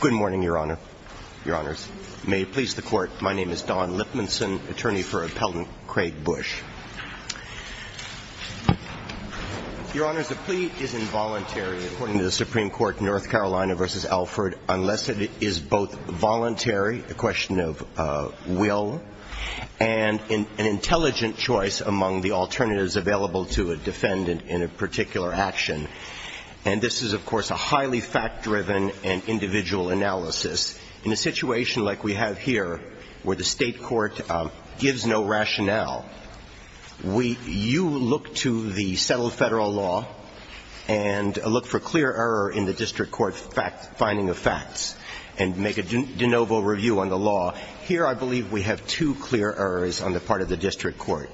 Good morning, Your Honors. May it please the Court, my name is Don Lipmanson, attorney for Appellant Craig Bush. Your Honors, a plea is involuntary according to the Supreme Court North Carolina v. Alford unless it is both voluntary, a question of will, and an intelligent choice among the alternatives available to a defendant in a particular action. And this is, of course, a highly fact-driven and individual analysis. In a situation like we have here where the state court gives no rationale, we, you look to the settled federal law and look for clear error in the district court finding of facts and make a de novo review on the law. Here I believe we have two clear errors on the part of the district court.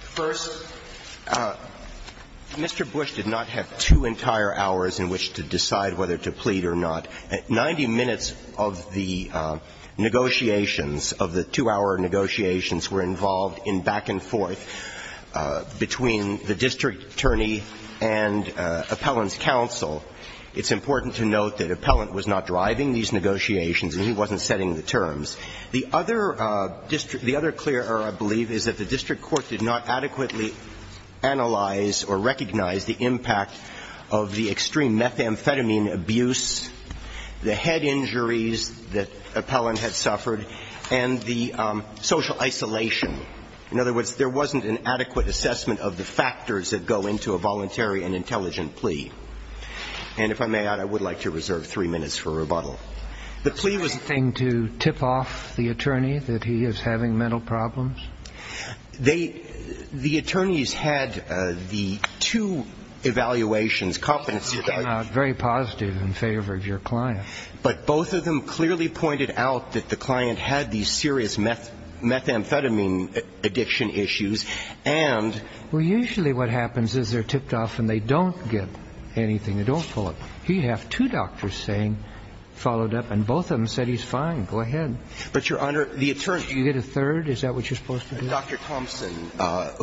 First, Mr. Bush did not have two entire hours in which to decide whether to plead or not. Ninety minutes of the negotiations, of the two-hour negotiations, were involved in back-and-forth between the district attorney and appellant's counsel. It's important to note that appellant was not driving these negotiations and he wasn't setting the terms. The other clear error, I believe, is that the district court did not adequately analyze or recognize the impact of the extreme methamphetamine abuse, the head injuries that appellant had suffered, and the social isolation. In other words, there wasn't an adequate assessment of the factors that go into a voluntary and intelligent plea. And if I may add, I would like to reserve three minutes for rebuttal. The plea was a thing to tip off the attorney that he is having mental problems? They, the attorneys had the two evaluations, competency evaluations. Very positive in favor of your client. But both of them clearly pointed out that the client had these serious methamphetamine addiction issues and. Well, usually what happens is they're tipped off and they don't get anything. They don't pull it. He'd have two doctors saying, followed up, and both of them said he's fine. Go ahead. But, Your Honor, the attorney. You get a third? Is that what you're supposed to do? Dr. Thompson,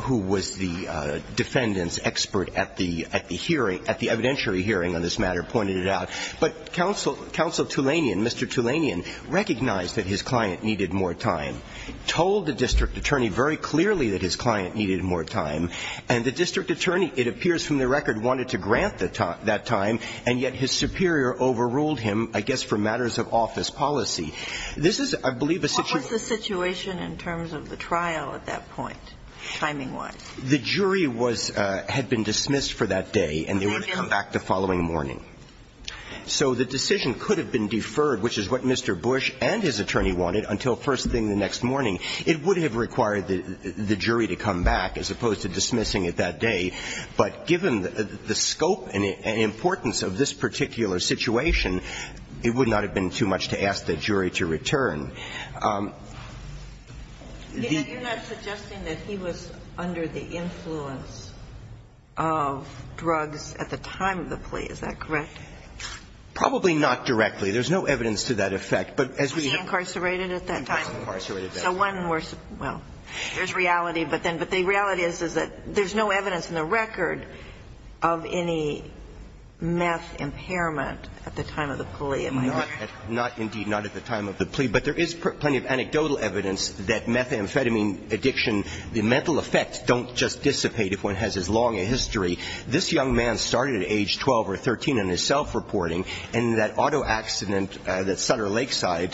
who was the defendant's expert at the hearing, at the evidentiary hearing on this matter, pointed it out. But counsel Tulanian, Mr. Tulanian, recognized that his client needed more time, told the district attorney very clearly that his client needed more time. And the district attorney, it appears from the record, wanted to grant that time. And yet his superior overruled him, I guess, for matters of office policy. This is, I believe, a situation. What was the situation in terms of the trial at that point, timing-wise? The jury was, had been dismissed for that day. And they were to come back the following morning. So the decision could have been deferred, which is what Mr. Bush and his attorney wanted, until first thing the next morning. It would have required the jury to come back as opposed to dismissing it that day. But given the scope and importance of this particular situation, it would not have been too much to ask the jury to return. The jury was to come back the following morning. You're not suggesting that he was under the influence of drugs at the time of the plea. Is that correct? Probably not directly. There's no evidence to that effect. Was he incarcerated at that time? He was incarcerated at that time. So one more, well, there's reality, but then, but the reality is, is that there's no evidence in the record of any meth impairment at the time of the plea, am I correct? Not, indeed, not at the time of the plea. But there is plenty of anecdotal evidence that methamphetamine addiction, the mental effects don't just dissipate if one has as long a history. This young man started at age 12 or 13 in his self-reporting, and that auto accident that Sutter Lakeside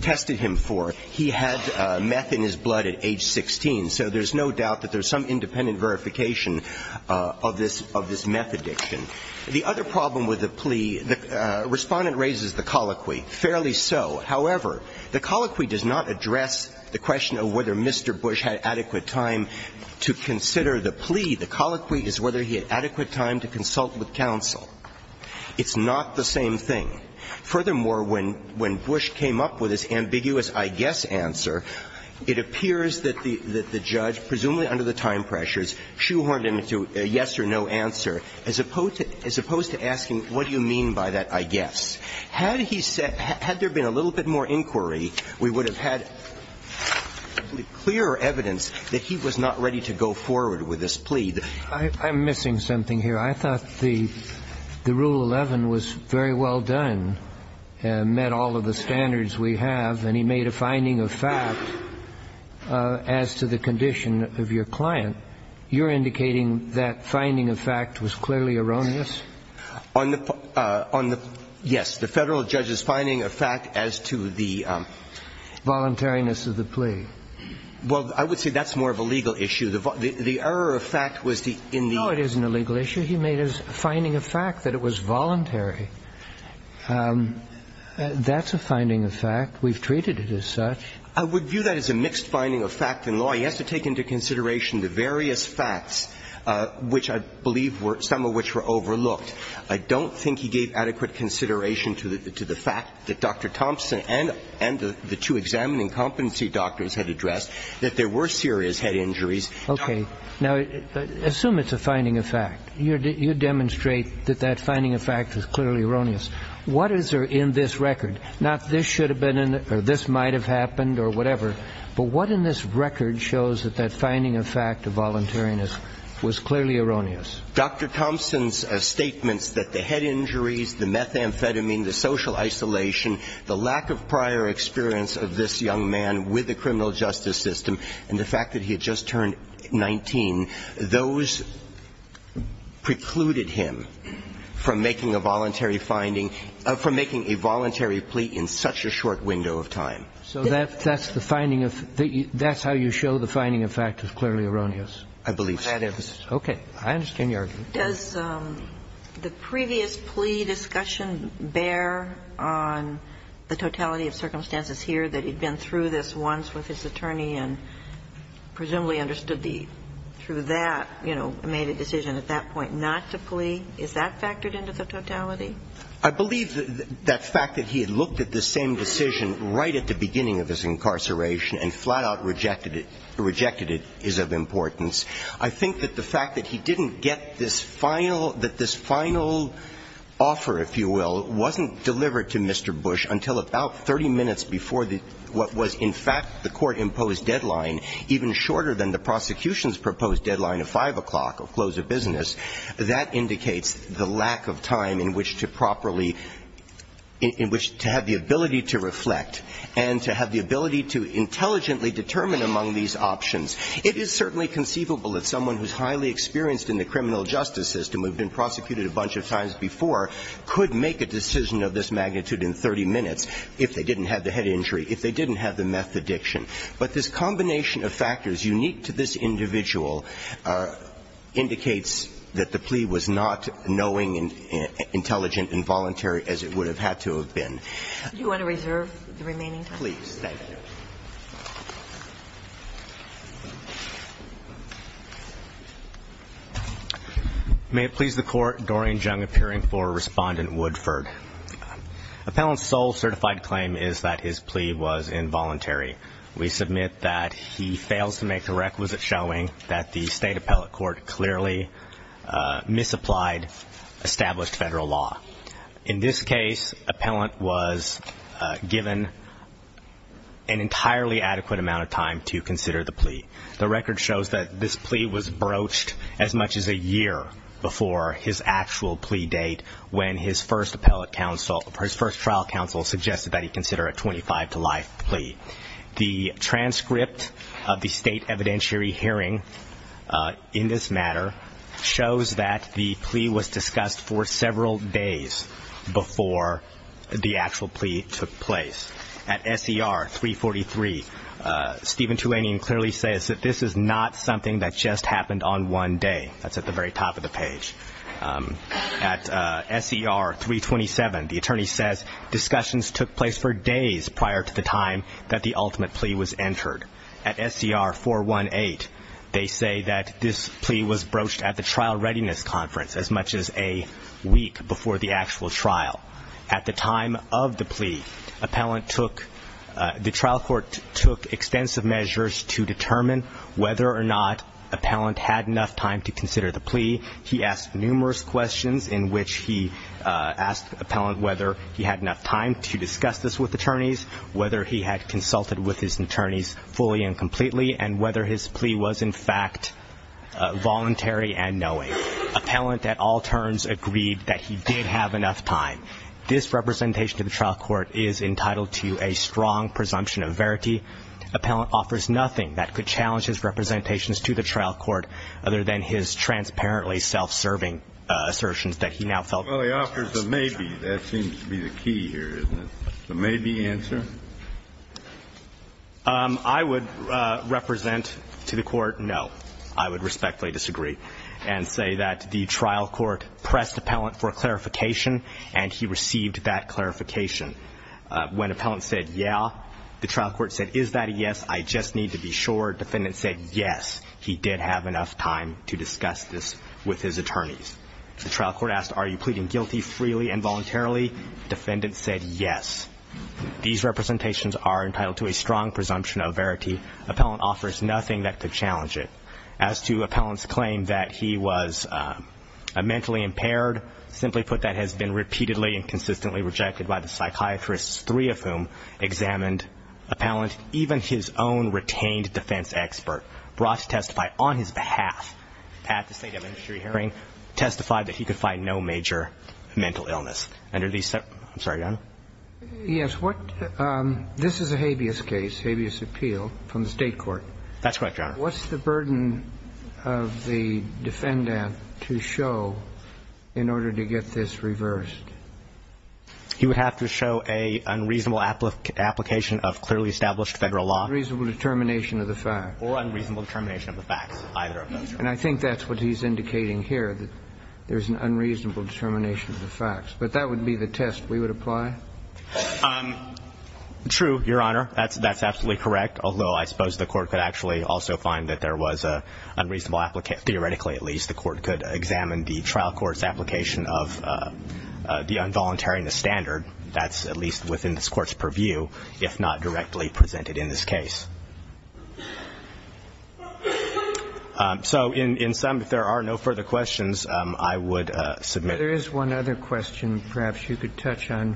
tested him for, he had meth in his blood at age 16. So there's no doubt that there's some independent verification of this meth addiction. The other problem with the plea, the Respondent raises the colloquy, fairly so. However, the colloquy does not address the question of whether Mr. Bush had adequate time to consider the plea. The colloquy is whether he had adequate time to consult with counsel. It's not the same thing. Furthermore, when Bush came up with this ambiguous I guess answer, it appears that the judge, presumably under the time pressures, shoehorned him to a yes or no answer, as opposed to asking what do you mean by that I guess. Had he said, had there been a little bit more inquiry, we would have had clear evidence that he was not ready to go forward with this plea. I'm missing something here. I thought the Rule 11 was very well done, met all of the standards we have, and he made a finding of fact as to the condition of your client. You're indicating that finding of fact was clearly erroneous? On the, yes, the Federal judge's finding of fact as to the- Voluntariness of the plea. Well, I would say that's more of a legal issue. The error of fact was the, in the- No, it isn't a legal issue. The issue he made is finding of fact, that it was voluntary. That's a finding of fact. We've treated it as such. I would view that as a mixed finding of fact in law. He has to take into consideration the various facts, which I believe were, some of which were overlooked. I don't think he gave adequate consideration to the fact that Dr. Thompson and the two examining competency doctors had addressed, that there were serious head injuries. Okay. Now, assume it's a finding of fact. You demonstrate that that finding of fact is clearly erroneous. What is there in this record? Not this should have been in it, or this might have happened, or whatever, but what in this record shows that that finding of fact of voluntariness was clearly erroneous? Dr. Thompson's statements that the head injuries, the methamphetamine, the social isolation, the lack of prior experience of this young man with the criminal justice system, and the fact that he had just turned 19, those precluded him from making a voluntary finding, from making a voluntary plea in such a short window of time. So that's the finding of, that's how you show the finding of fact is clearly erroneous? I believe so. Okay. I understand your argument. Does the previous plea discussion bear on the totality of circumstances here, that he'd been through this once with his attorney and presumably understood the, through that, you know, made a decision at that point not to plea? Is that factored into the totality? I believe that the fact that he had looked at the same decision right at the beginning of his incarceration and flat-out rejected it is of importance. I think that the fact that he didn't get this final, that this final offer, if you will, wasn't delivered to Mr. Bush until about 30 minutes before the, what was in fact the court-imposed deadline, even shorter than the prosecution's proposed deadline of 5 o'clock, of close of business, that indicates the lack of time in which to properly, in which to have the ability to reflect, and to have the ability to intelligently determine among these options. It is certainly conceivable that someone who's highly experienced in the criminal justice system, who'd been prosecuted a bunch of times before, could make a decision of this magnitude in 30 minutes if they didn't have the head injury, if they didn't have the meth addiction. But this combination of factors unique to this individual indicates that the plea was not knowing and intelligent and voluntary as it would have had to have been. Do you want to reserve the remaining time? Please. Thank you. May it please the Court, Doreen Jung appearing for Respondent Woodford. Appellant's sole certified claim is that his plea was involuntary. We submit that he fails to make the requisite showing that the State Appellate Court clearly misapplied established federal law. In this case, Appellant was given an entirely adequate amount of time to consider the plea. The record shows that this plea was broached as much as a year before his actual plea date when his first trial counsel suggested that he consider a 25 to life plea. The transcript of the State evidentiary hearing in this matter shows that the plea was broached as much as a week or days before the actual plea took place. At SCR 343, Stephen Tuanian clearly says that this is not something that just happened on one day. That's at the very top of the page. At SCR 327, the attorney says discussions took place for days prior to the time that the ultimate plea was entered. At SCR 418, they say that this plea was broached at the trial readiness conference as much as a week before the actual trial. At the time of the plea, the trial court took extensive measures to determine whether or not Appellant had enough time to consider the plea. He asked numerous questions in which he asked Appellant whether he had enough time to discuss this with attorneys, whether he had consulted with his attorneys fully and completely, and whether his plea was, in fact, voluntary and knowing. Appellant at all turns agreed that he did have enough time. This representation to the trial court is entitled to a strong presumption of verity. Appellant offers nothing that could challenge his representations to the trial court other than his transparently self-serving assertions that he now felt. Well, he offers a maybe. That seems to be the key here, isn't it? The maybe answer? I would represent to the court no. I would respectfully disagree and say that the trial court pressed Appellant for clarification, and he received that clarification. When Appellant said yeah, the trial court said, is that a yes? I just need to be sure. Defendant said yes, he did have enough time to discuss this with his attorneys. The trial court asked, are you pleading guilty freely and voluntarily? Defendant said yes. These representations are entitled to a strong presumption of verity. Appellant offers nothing that could challenge it. As to Appellant's claim that he was mentally impaired, simply put that has been repeatedly and consistently rejected by the psychiatrists, three of whom examined Appellant, even his own retained defense expert, brought to testify on his behalf at the State of Industry hearing, testified that he could find no major mental illness. I'm sorry, Your Honor? Yes. This is a habeas case, habeas appeal from the state court. That's correct, Your Honor. What's the burden of the defendant to show in order to get this reversed? He would have to show an unreasonable application of clearly established federal law. Or unreasonable determination of the facts, either of those. And I think that's what he's indicating here, that there's an unreasonable determination of the facts. But that would be the test we would apply? True, Your Honor. That's absolutely correct. Although I suppose the Court could actually also find that there was an unreasonable application. Theoretically, at least, the Court could examine the trial court's application of the involuntary and the standard. That's at least within this Court's purview, if not directly presented in this case. So in sum, if there are no further questions, I would submit. There is one other question, perhaps you could touch on,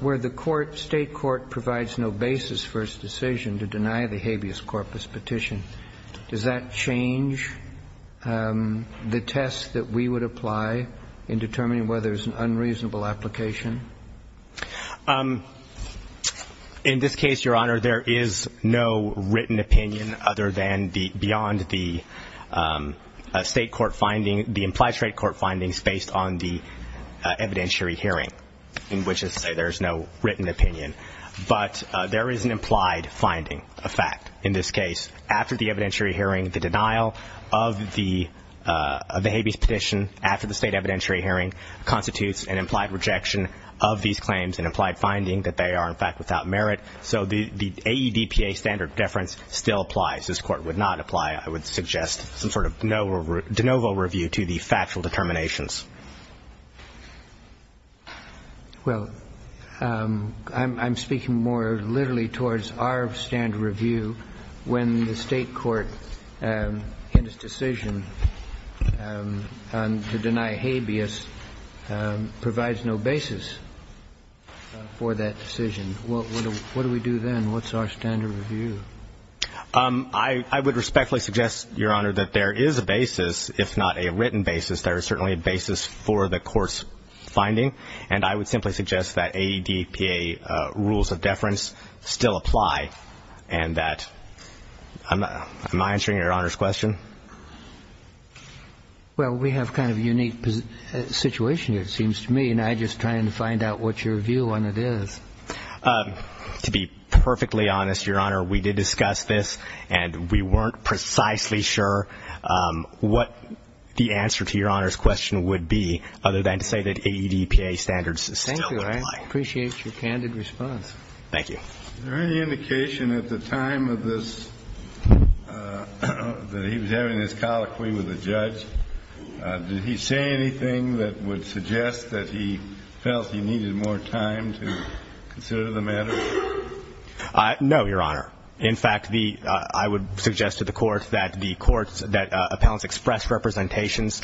where the state court provides no basis for its decision to deny the habeas corpus petition. Does that change the test that we would apply in determining whether there's an unreasonable application? In this case, Your Honor, there is no written opinion, other than beyond the state court finding, the implied state court findings based on the evidentiary hearing, in which there is no written opinion. But there is an implied finding, a fact, in this case. After the evidentiary hearing, the denial of the habeas petition, after the state evidentiary hearing, constitutes an implied rejection of these claims and implied finding that they are, in fact, without merit. So the AEDPA standard deference still applies. This Court would not apply, I would suggest, some sort of de novo review to the factual determinations. Well, I'm speaking more literally towards our standard review. When the state court in its decision to deny habeas provides no basis for that decision, what do we do then? What's our standard review? I would respectfully suggest, Your Honor, that there is a basis, if not a written basis. There is certainly a basis for the court's finding. And I would simply suggest that AEDPA rules of deference still apply, and that am I answering Your Honor's question? Well, we have kind of a unique situation here, it seems to me, and I'm just trying to find out what your view on it is. To be perfectly honest, Your Honor, we did discuss this, and we weren't precisely sure what the answer to Your Honor's question would be, other than to say that AEDPA standards still apply. Thank you. I appreciate your candid response. Thank you. Is there any indication at the time of this that he was having this colloquy with the judge? Did he say anything that would suggest that he felt he needed more time to consider the matter? No, Your Honor. In fact, I would suggest to the Court that the courts that appellants express representations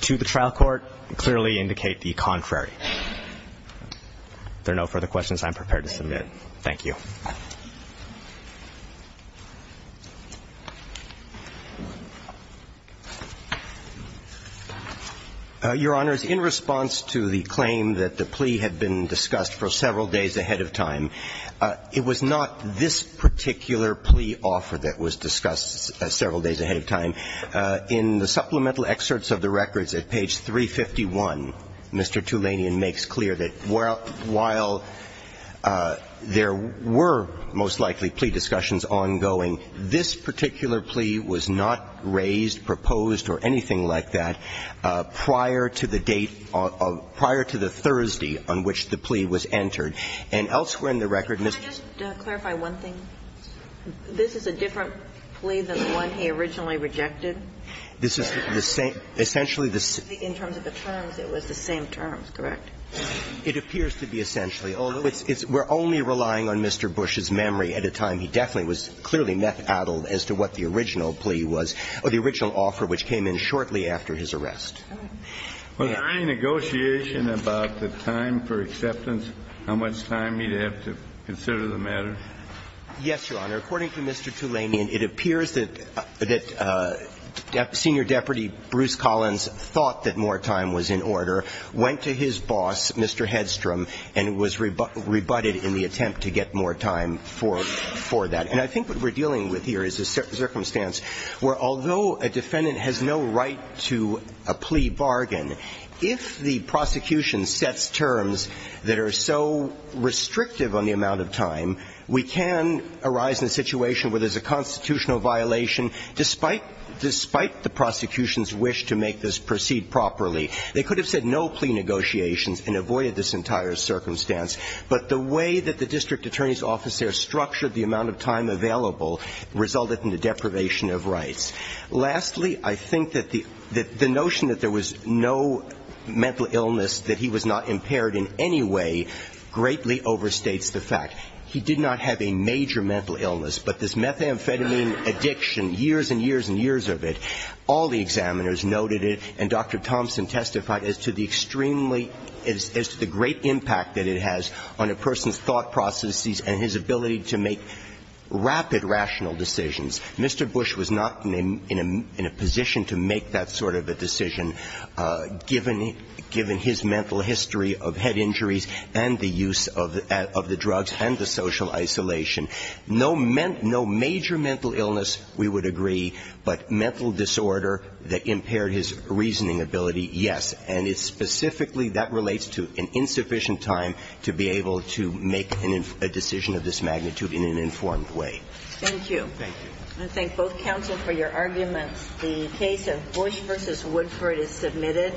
to the trial court clearly indicate the contrary. If there are no further questions, I'm prepared to submit. Thank you. Your Honors, in response to the claim that the plea had been discussed for several days ahead of time, it was not this particular plea offer that was discussed several days ahead of time. In the supplemental excerpts of the records at page 351, Mr. Tulanian makes clear that while there were most likely plea discussions ongoing, this particular plea was not raised, proposed, or anything like that prior to the date, prior to the Thursday on which the plea was entered. And elsewhere in the record, Mr. Tulanian said that the plea had been discussed for several days ahead of time. Can I just clarify one thing? This is a different plea than the one he originally rejected? This is the same, essentially the same. In terms of the terms, it was the same terms, correct? It appears to be essentially, although it's we're only relying on Mr. Bush's memory at a time he definitely was clearly meth-addled as to what the original plea was, or the original offer, which came in shortly after his arrest. Was there any negotiation about the time for acceptance, how much time he'd have to consider the matter? Yes, Your Honor. According to Mr. Tulanian, it appears that Senior Deputy Bruce Collins thought that more time was in order, went to his boss, Mr. Hedstrom, and was rebutted in the attempt to get more time for that. And I think what we're dealing with here is a circumstance where, although a defendant has no right to a plea bargain, if the prosecution sets terms that are so restrictive on the amount of time, we can arise in a situation where there's a constitutional violation, despite the prosecution's wish to make this proceed properly. They could have said no plea negotiations and avoided this entire circumstance. But the way that the district attorney's office there structured the amount of time available resulted in the deprivation of rights. Lastly, I think that the notion that there was no mental illness, that he was not impaired in any way, greatly overstates the fact. He did not have a major mental illness, but this methamphetamine addiction, years and years and years of it, all the examiners noted it, and Dr. Thompson testified as to the extremely – as to the great impact that it has on a person's thought processes and his ability to make rapid rational decisions. Mr. Bush was not in a position to make that sort of a decision, given his mental history of head injuries and the use of the drugs and the social isolation. No major mental illness, we would agree, but mental disorder that impaired his reasoning ability, yes. And it's specifically – that relates to an insufficient time to be able to make a decision of this magnitude in an informed way. Thank you. Thank you. I thank both counsel for your arguments. The case of Bush v. Woodford is submitted.